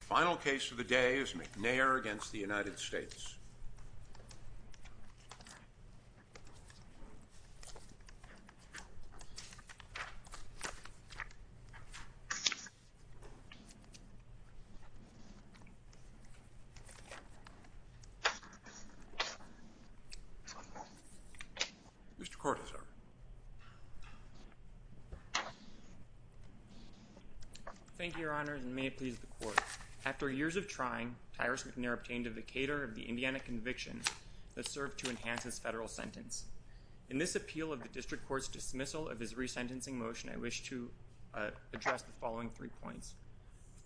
The final case of the day is McNair v. United States. Mr. Cortezar. Thank you, Your Honor, and may it please the Court. After years of trying, Tyrus McNair obtained a vacator of the Indiana conviction that served to enhance his federal sentence. In this appeal of the District Court's dismissal of his resentencing motion, I wish to address the following three points.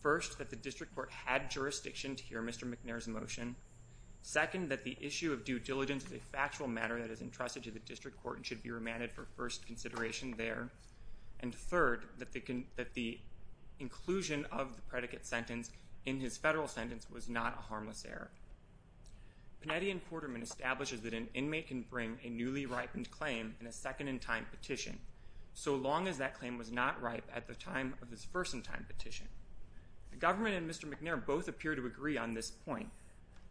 First that the District Court had jurisdiction to hear Mr. McNair's motion. Second that the issue of due diligence is a factual matter that is entrusted to the defendant for first consideration there, and third that the inclusion of the predicate sentence in his federal sentence was not a harmless error. Panetti and Quarterman establishes that an inmate can bring a newly ripened claim in a second-in-time petition so long as that claim was not ripe at the time of his first-in-time petition. The government and Mr. McNair both appear to agree on this point,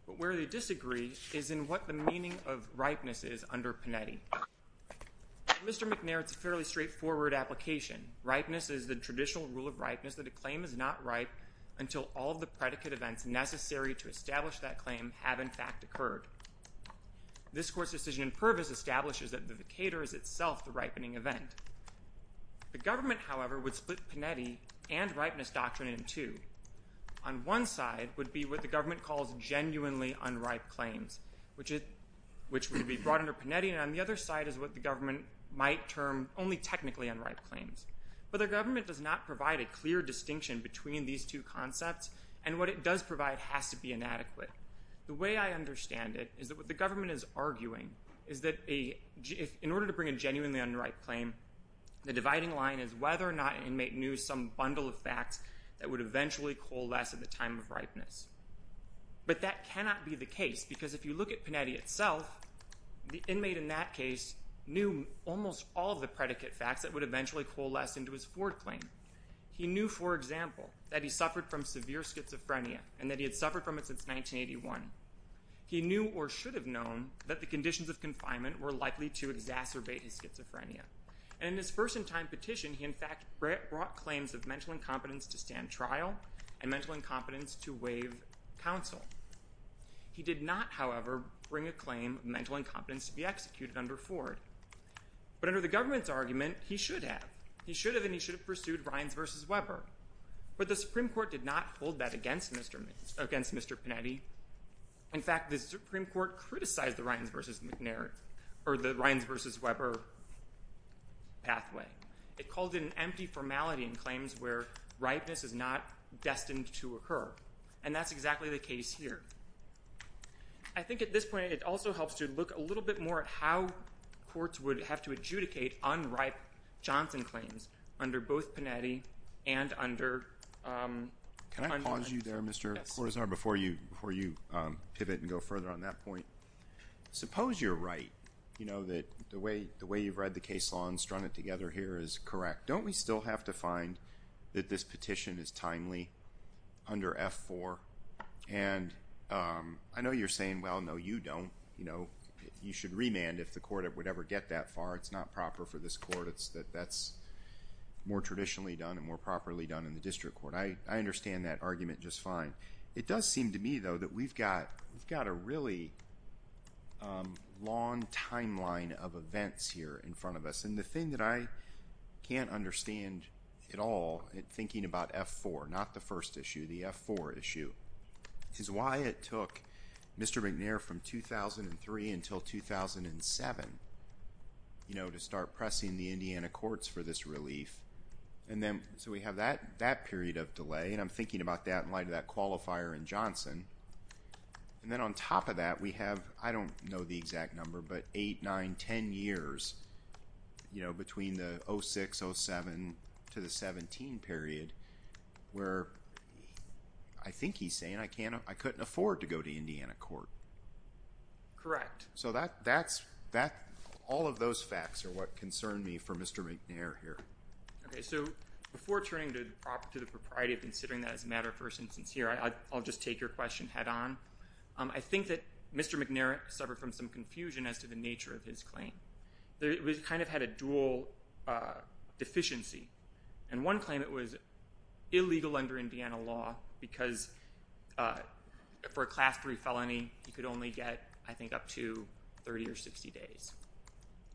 but where they disagree is in what the meaning of ripeness is under Panetti. Mr. McNair, it's a fairly straightforward application. Ripeness is the traditional rule of ripeness that a claim is not ripe until all the predicate events necessary to establish that claim have, in fact, occurred. This Court's decision in Purvis establishes that the vacator is itself the ripening event. The government, however, would split Panetti and ripeness doctrine in two. On one side would be what the government calls genuinely unripe claims, which would be brought under Panetti, and on the other side is what the government might term only technically unripe claims. But the government does not provide a clear distinction between these two concepts, and what it does provide has to be inadequate. The way I understand it is that what the government is arguing is that in order to bring a genuinely unripe claim, the dividing line is whether or not an inmate knew some bundle of facts that would eventually coalesce at the time of ripeness. But that cannot be the case, because if you look at Panetti itself, the inmate in that case knew almost all of the predicate facts that would eventually coalesce into his foreclaim. He knew, for example, that he suffered from severe schizophrenia, and that he had suffered from it since 1981. He knew, or should have known, that the conditions of confinement were likely to exacerbate his schizophrenia. And in his first-in-time petition, he, in fact, brought claims of mental incompetence to stand trial and mental incompetence to waive counsel. He did not, however, bring a claim of mental incompetence to be executed under Ford. But under the government's argument, he should have. He should have, and he should have pursued Ryans v. Weber. But the Supreme Court did not hold that against Mr. Panetti. In fact, the Supreme Court criticized the Ryans v. Weber pathway. It called it an empty formality in claims where ripeness is not destined to occur. And that's exactly the case here. I think at this point, it also helps to look a little bit more at how courts would have to adjudicate unripe Johnson claims under both Panetti and under Cunliffe. Can I pause you there, Mr. Cortazar, before you pivot and go further on that point? Suppose you're right, you know, that the way you've read the case law and strung it together here is correct. Don't we still have to find that this petition is timely under F-4? And I know you're saying, well, no, you don't. You know, you should remand if the court would ever get that far. It's not proper for this court. That's more traditionally done and more properly done in the district court. I understand that argument just fine. It does seem to me, though, that we've got a really long timeline of events here in front of us. And the thing that I can't understand at all in thinking about F-4, not the first issue, the F-4 issue, is why it took Mr. McNair from 2003 until 2007, you know, to start pressing the Indiana courts for this relief. And then, so we have that period of delay, and I'm thinking about that in light of that qualifier in Johnson. And then on top of that, we have, I don't know the exact number, but 8, 9, 10 years, you know, between the 06, 07 to the 17 period, where I think he's saying I couldn't afford to go to Indiana court. Correct. So that's, all of those facts are what concern me for Mr. McNair here. Okay. So before turning to the property, to the propriety of considering that as a matter of first instance here, I'll just take your question head-on. I think that Mr. McNair suffered from some confusion as to the nature of his claim. It kind of had a dual deficiency. And one claim, it was illegal under Indiana law because for a Class III felony, he could only get, I think, up to 30 or 60 days.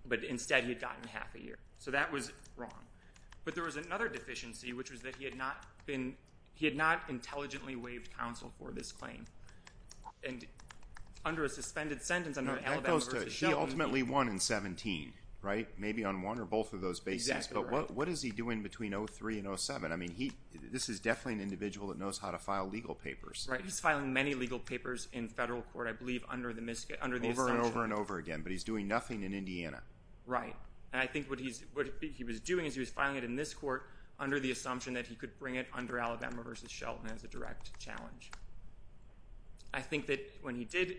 But instead, he had gotten half a year. So that was wrong. But there was another deficiency, which was that he had not been, he had not intelligently waived counsel for this claim. And under a suspended sentence, I'm not Alabama versus Shelby, he ultimately won in 17, right? Maybe on one or both of those bases, but what is he doing between 03 and 07? I mean, he, this is definitely an individual that knows how to file legal papers. Right. He's filing many legal papers in federal court. I believe under the, under the assumption. Over and over and over again. But he's doing nothing in Indiana. Right. And I think what he's, what he was doing is he was filing it in this court under the assumption that he could bring it under Alabama versus Shelton as a direct challenge. I think that when he did,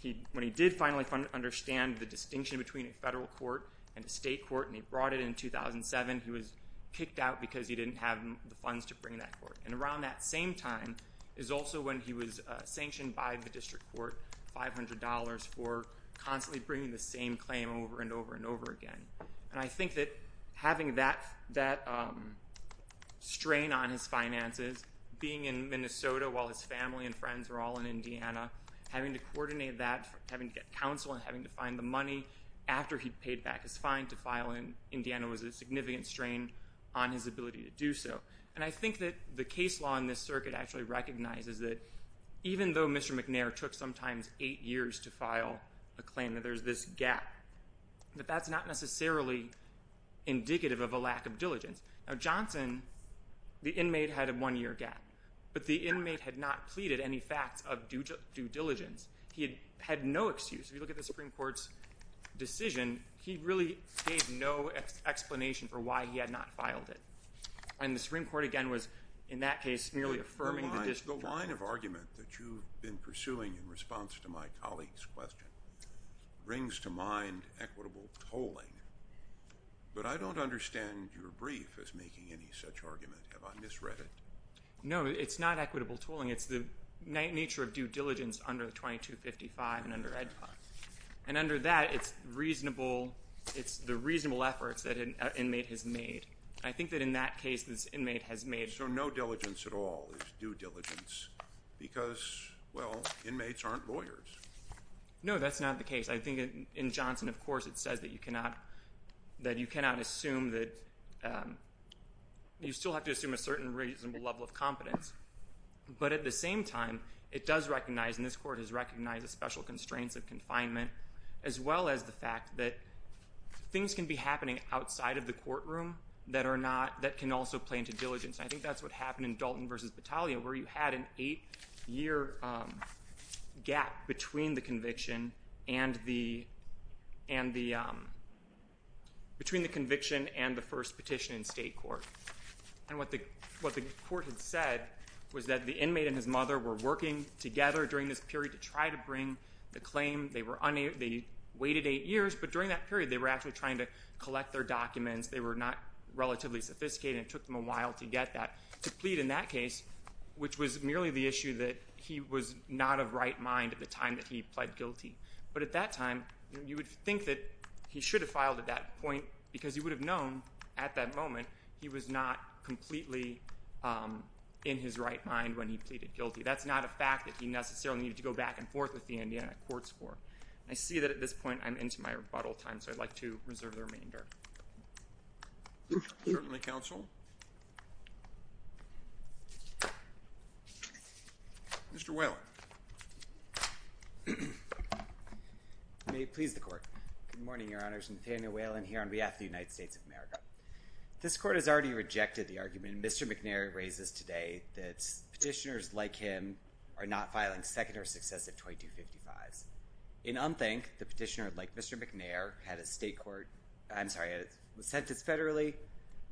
he, when he did finally understand the distinction between a federal court and a state court, and he brought it in 2007, he was kicked out because he didn't have the funds to bring that court. And around that same time is also when he was sanctioned by the district court, $500 for constantly bringing the same claim over and over and over again. And I think that having that, that strain on his finances, being in Minnesota while his family and friends were all in Indiana, having to coordinate that, having to get counsel and having to find the money after he paid back his fine to file in Indiana was a significant strain on his ability to do so. And I think that the case law in this circuit actually recognizes that even though Mr. McNair took sometimes eight years to file a claim, that there's this gap, that that's not necessarily indicative of a lack of diligence. Now Johnson, the inmate had a one-year gap, but the inmate had not pleaded any facts of due diligence. He had no excuse. If you look at the Supreme Court's decision, he really gave no explanation for why he had not filed it. And the Supreme Court, again, was in that case merely affirming the district court. The line of argument that you've been pursuing in response to my colleague's question brings to mind equitable tolling, but I don't understand your brief as making any such argument. Have I misread it? No, it's not equitable tolling. It's the nature of due diligence under the 2255 and under Ed Fund. And under that, it's reasonable, it's the reasonable efforts that an inmate has made. And I think that in that case, this inmate has made... So no diligence at all is due diligence because, well, inmates aren't lawyers. No, that's not the case. I think in Johnson, of course, it says that you cannot assume that... You still have to assume a certain reasonable level of competence. But at the same time, it does recognize, and this court has recognized the special constraints of confinement, as well as the fact that things can be happening outside of the courtroom that are not... That can also play into diligence. And I think that's what happened in Dalton v. Battaglia where you had an eight-year gap between the conviction and the... Between the conviction and the first petition in state court. And what the court had said was that the inmate and his mother were working together during this period to try to bring the claim. They waited eight years, but during that period, they were actually trying to collect their documents. They were not relatively sophisticated, and it took them a while to get that, to plead in that case, which was merely the issue that he was not of right mind at the time that he pled guilty. But at that time, you would think that he should have filed at that point because he would have known at that moment he was not completely in his right mind when he pleaded guilty. That's not a fact that he necessarily needed to go back and forth with the Indiana courts for. And I see that at this point, I'm into my rebuttal time, so I'd like to reserve the remainder. Certainly, counsel. Mr. Whalen. May it please the court. Good morning, Your Honors. Nathaniel Whalen here on behalf of the United States of America. This court has already rejected the argument Mr. McNary raises today that petitioners like him are not filing second or successive 2255s. In Unthink, the petitioner, like Mr. McNair, had a state court, I'm sorry, a sentence federally,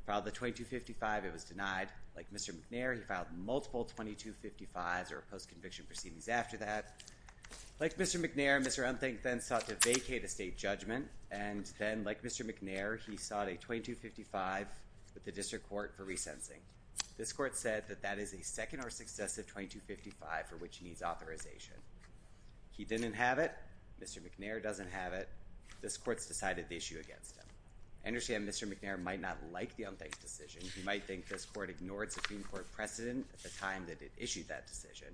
filed the 2255, it was denied. Like Mr. McNair, he filed multiple 2255s or post-conviction proceedings after that. Like Mr. McNair, Mr. Unthink then sought to vacate a state judgment, and then like Mr. McNair, he sought a 2255 with the district court for re-sensing. This court said that that is a second or successive 2255 for which he needs authorization. He didn't have it, Mr. McNair doesn't have it, this court's decided the issue against him. I understand Mr. McNair might not like the Unthink decision, he might think this court ignored Supreme Court precedent at the time that it issued that decision.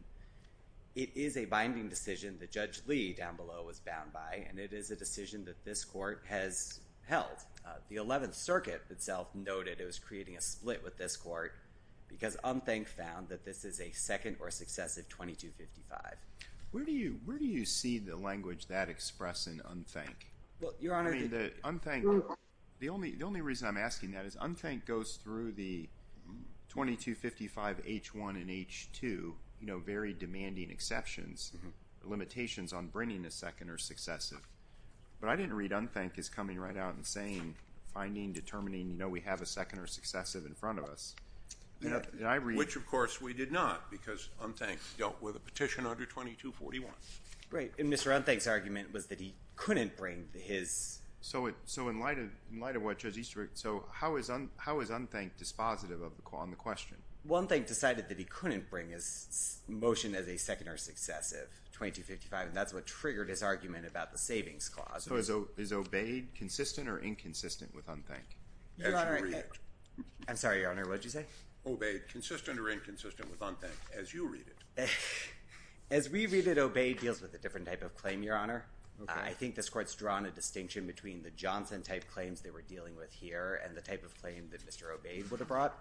It is a binding decision that Judge Lee, down below, was bound by, and it is a decision that this court has held. The 11th Circuit itself noted it was creating a split with this court because Unthink found that this is a second or successive 2255. Where do you see the language that expressed in Unthink? I mean, the Unthink, the only reason I'm asking that is Unthink goes through the 2255 H1 and H2, you know, very demanding exceptions, limitations on bringing a second or successive. But I didn't read Unthink as coming right out and saying, finding, determining, you know, we have a second or successive in front of us. Which of course we did not, because Unthink dealt with a petition under 2241. Right, and Mr. Unthink's argument was that he couldn't bring his. So in light of what Judge Easterbrook, so how is Unthink dispositive on the question? Unthink decided that he couldn't bring his motion as a second or successive 2255, and that's what triggered his argument about the Savings Clause. Is Obeyed consistent or inconsistent with Unthink? Your Honor, I'm sorry, Your Honor, what did you say? Obeyed, consistent or inconsistent with Unthink, as you read it. As we read it, Obeyed deals with a different type of claim, Your Honor. I think this court's drawn a distinction between the Johnson type claims they were dealing with here and the type of claim that Mr. Obeyed would have brought.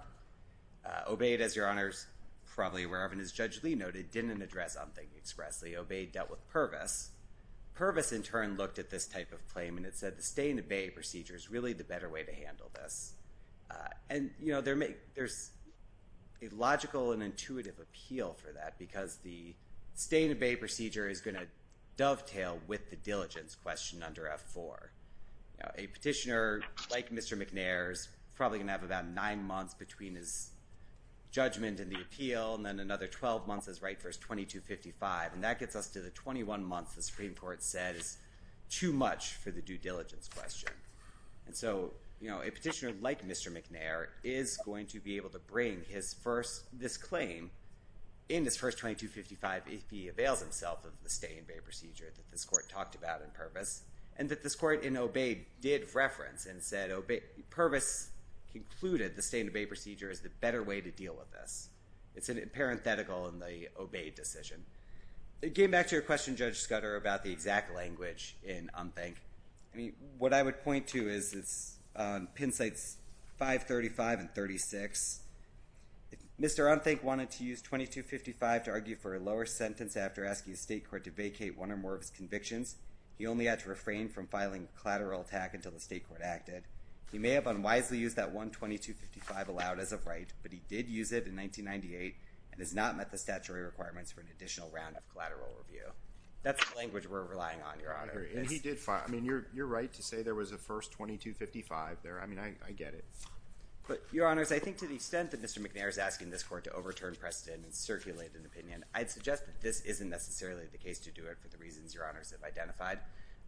Obeyed, as Your Honor's probably aware of, and as Judge Lee noted, didn't address Unthink expressly. Obeyed dealt with Purvis. Purvis, in turn, looked at this type of claim, and it said the stay and obey procedure is really the better way to handle this. And there's a logical and intuitive appeal for that, because the stay and obey procedure is going to dovetail with the diligence question under F4. A petitioner, like Mr. McNair, is probably going to have about nine months between his 12 months as right, verse 2255, and that gets us to the 21 months the Supreme Court says is too much for the due diligence question. And so a petitioner, like Mr. McNair, is going to be able to bring this claim in his first 2255 if he avails himself of the stay and obey procedure that this court talked about in Purvis, and that this court in Obeyed did reference and said Purvis concluded the stay and obey procedure is the better way to deal with this. It's in parenthetical in the Obeyed decision. It came back to your question, Judge Scudder, about the exact language in UNTHINK. What I would point to is it's on pin sites 535 and 36. If Mr. UNTHINK wanted to use 2255 to argue for a lower sentence after asking the state court to vacate one or more of his convictions, he only had to refrain from filing a collateral attack until the state court acted. He may have unwisely used that one 2255 allowed as a right, but he did use it in 1998 and has not met the statutory requirements for an additional round of collateral review. That's the language we're relying on, Your Honor. And he did file. I mean, you're right to say there was a first 2255 there. I mean, I get it. But Your Honors, I think to the extent that Mr. McNair is asking this court to overturn precedent and circulate an opinion, I'd suggest that this isn't necessarily the case to do it for the reasons Your Honors have identified.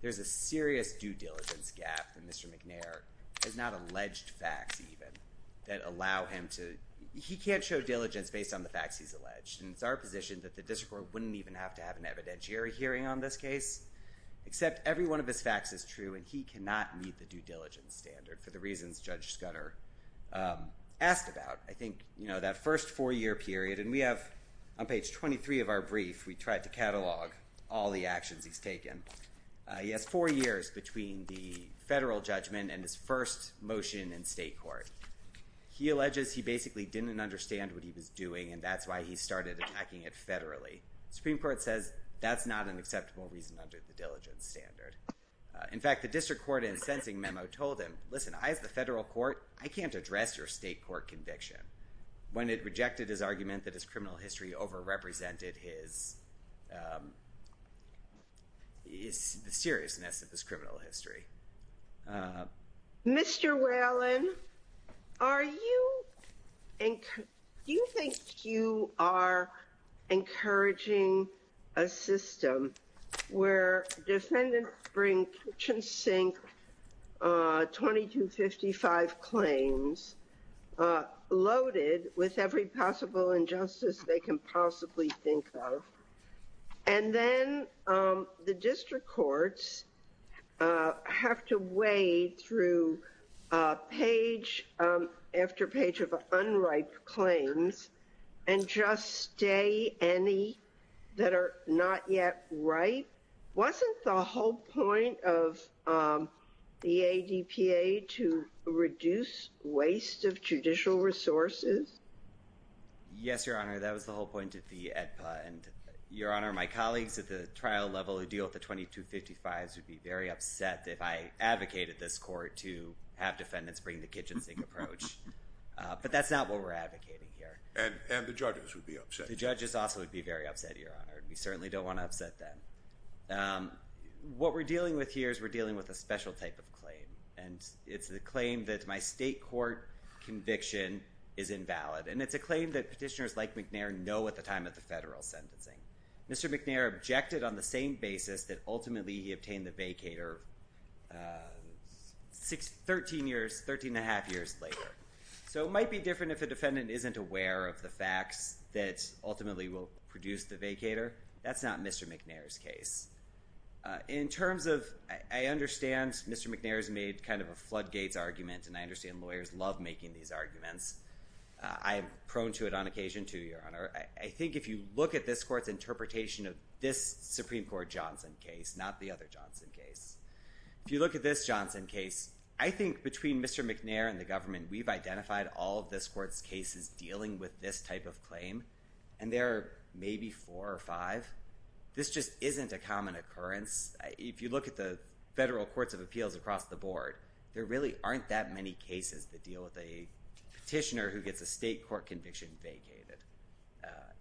There's a serious due diligence gap that Mr. McNair has not alleged facts even that allow him to, he can't show diligence based on the facts he's alleged. And it's our position that the district court wouldn't even have to have an evidentiary hearing on this case, except every one of his facts is true and he cannot meet the due diligence standard for the reasons Judge Scudder asked about. I think, you know, that first four-year period, and we have on page 23 of our brief, we tried to catalog all the actions he's taken. He has four years between the federal judgment and his first motion in state court. He alleges he basically didn't understand what he was doing, and that's why he started attacking it federally. The Supreme Court says that's not an acceptable reason under the diligence standard. In fact, the district court in the sentencing memo told him, listen, I have the federal court. I can't address your state court conviction. When it rejected his argument that his criminal history overrepresented his seriousness of his criminal history. Mr. Whalen, are you, do you think you are encouraging a system where defendants bring in 2255 claims loaded with every possible injustice they can possibly think of, and then the district courts have to wade through page after page of unrighted claims and just stay any that are not yet right? Wasn't the whole point of the ADPA to reduce waste of judicial resources? Yes, Your Honor, that was the whole point of the ADPA, and Your Honor, my colleagues at the trial level who deal with the 2255s would be very upset if I advocated this court to have defendants bring the kitchen sink approach, but that's not what we're advocating here. And the judges would be upset. The judges also would be very upset, Your Honor, and we certainly don't want to upset them. What we're dealing with here is we're dealing with a special type of claim, and it's the claim that my state court conviction is invalid, and it's a claim that petitioners like McNair know at the time of the federal sentencing. Mr. McNair objected on the same basis that ultimately he obtained the vacator 13 years, 13 and a half years later. So it might be different if a defendant isn't aware of the facts that ultimately will produce the vacator. That's not Mr. McNair's case. In terms of, I understand Mr. McNair's made kind of a floodgates argument, and I understand lawyers love making these arguments. I am prone to it on occasion, too, Your Honor. I think if you look at this court's interpretation of this Supreme Court Johnson case, not the other Johnson case, if you look at this Johnson case, I think between Mr. McNair and the government, we've identified all of this court's cases dealing with this type of claim, and there are maybe four or five. This just isn't a common occurrence. If you look at the federal courts of appeals across the board, there really aren't that many cases that deal with a petitioner who gets a state court conviction vacated.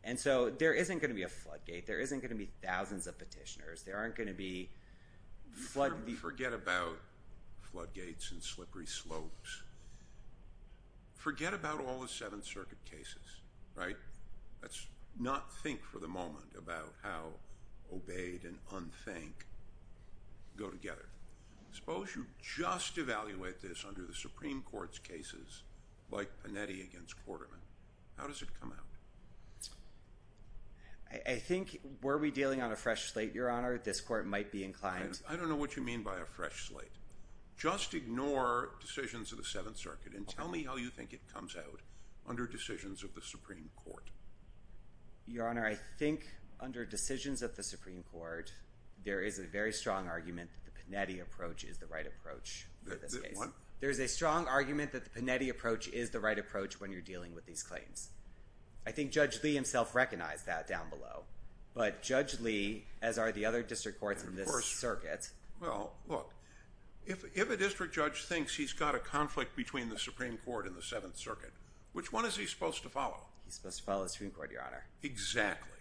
And so there isn't going to be a floodgate. There isn't going to be thousands of petitioners. There aren't going to be floodgates. Forget about floodgates and slippery slopes. Forget about all the Seventh Circuit cases, right? Let's not think for the moment about how obeyed and unthanked go together. Suppose you just evaluate this under the Supreme Court's cases, like Panetti against Quarterman. How does it come out? I think were we dealing on a fresh slate, Your Honor, this court might be inclined to— I don't know what you mean by a fresh slate. Just ignore decisions of the Seventh Circuit and tell me how you think it comes out under decisions of the Supreme Court. Your Honor, I think under decisions of the Supreme Court, there is a very strong argument that the Panetti approach is the right approach. There's a strong argument that the Panetti approach is the right approach when you're dealing with these claims. I think Judge Lee himself recognized that down below. But Judge Lee, as are the other district courts in this circuit— Well, look, if a district judge thinks he's got a conflict between the Supreme Court and the Seventh Circuit, which one is he supposed to follow? He's supposed to follow the Supreme Court, Your Honor. Exactly.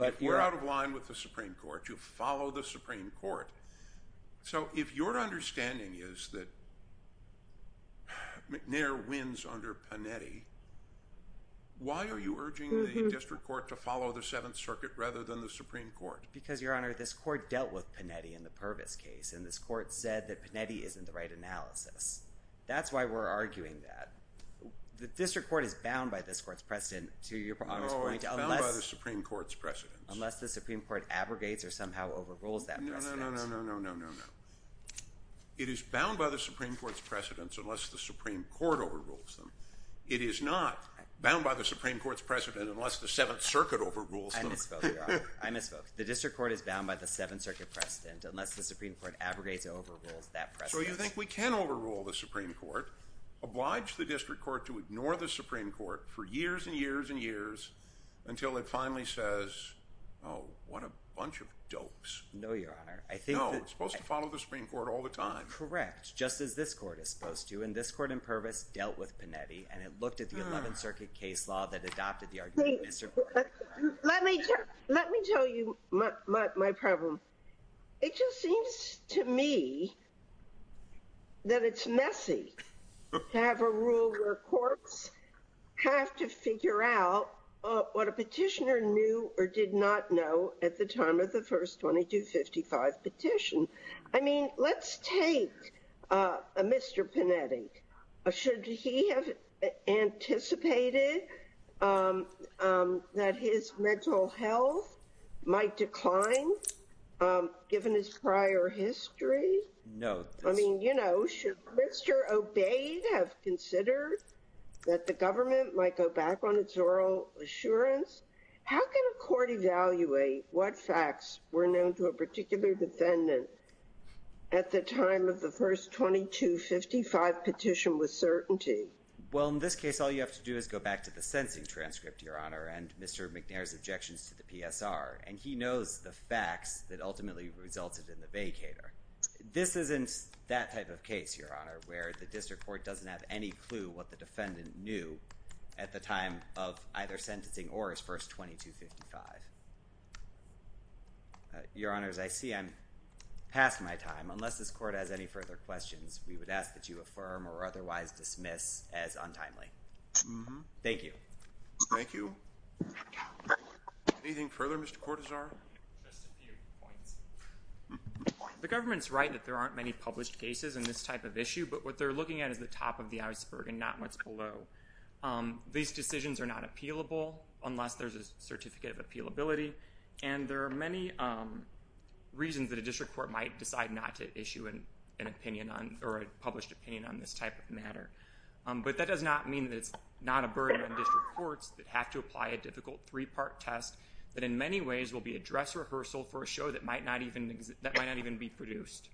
If you're out of line with the Supreme Court, you follow the Supreme Court. So if your understanding is that McNair wins under Panetti, why are you urging the district court to follow the Seventh Circuit rather than the Supreme Court? Because Your Honor, this court dealt with Panetti in the Purvis case, and this court said that Panetti isn't the right analysis. That's why we're arguing that. The district court is bound by this court's precedent No, it's bound by the Supreme Court's precedent. unless the Supreme Court abrogates or somehow overrules that precedent. No, no, no, no. It is bound by the Supreme Court's precedents unless the Supreme Court overrules them. It is not bound by the Supreme Court's precedents unless the Seventh Circuit overrules them. I misspoke, Your Honor. I misspoke. The district court is bound by the Seventh Circuit precedent unless the Supreme Court abrogates or overrules that precedent. So you think we can overrule the Supreme Court, oblige the district court to ignore the Supreme Court for years and years and years until it finally says, oh, what a bunch of dopes. No, Your Honor. No, it's supposed to follow the Supreme Court all the time. Correct. Just as this court is supposed to. And this court in Pervis dealt with Panetti and it looked at the Eleventh Circuit case law that adopted the argument of Mr. Panetti. Let me tell you my problem. It just seems to me that it's messy to have a rule where courts have to figure out what a petitioner knew or did not know at the time of the first 2255 petition. I mean, let's take a Mr. Panetti. Should he have anticipated that his mental health might decline given his prior history? No. I mean, you know, should Mr. Obeyed have considered that the government might go back on its oral assurance? How can a court evaluate what facts were known to a particular defendant at the time of the first 2255 petition with certainty? Well, in this case, all you have to do is go back to the sentencing transcript, Your Honor, and Mr. McNair's objections to the PSR. And he knows the facts that ultimately resulted in the vacater. This isn't that type of case, Your Honor, where the district court doesn't have any clue what the defendant knew at the time of either sentencing or his first 2255. Your Honor, as I see, I'm past my time. Unless this court has any further questions, we would ask that you affirm or otherwise dismiss as untimely. Thank you. Thank you. Anything further, Mr. Cortazar? Just a few points. The government's right that there aren't many published cases in this type of issue, but what they're looking at is the top of the iceberg and not what's below. These decisions are not appealable unless there's a certificate of appealability. And there are many reasons that a district court might decide not to issue an opinion on, or a published opinion on this type of matter. But that does not mean that it's not a burden on district courts that have to apply a difficult three-part test that in many ways will be a dress rehearsal for a show that might not even exist, that might not even be produced.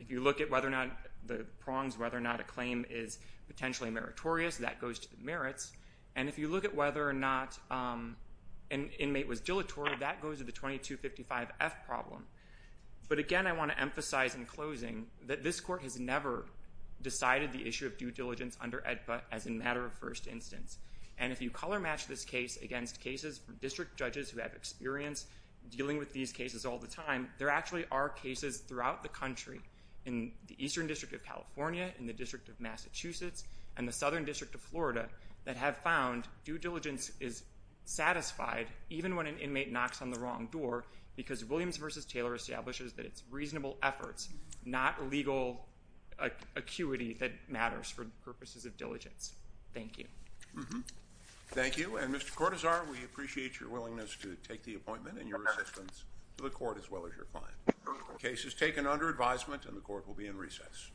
If you look at whether or not the prongs, whether or not a claim is potentially meritorious, that goes to the merits. And if you look at whether or not an inmate was dilatory, that goes to the 2255F problem. But again, I want to emphasize in closing that this court has never decided the issue of due diligence under AEDPA as a matter of first instance. And if you color match this case against cases from district judges who have experience dealing with these cases all the time, there actually are cases throughout the country in the Eastern District of California, in the District of Massachusetts, and the Southern District of Florida that have found due diligence is satisfied even when an inmate knocks on the wrong door because Williams v. Taylor establishes that it's reasonable efforts, not legal acuity that matters for purposes of diligence. Thank you. Thank you. And Mr. Cortazar, we appreciate your willingness to take the appointment and your assistance to the court as well as your client. Case is taken under advisement and the court will be in recess.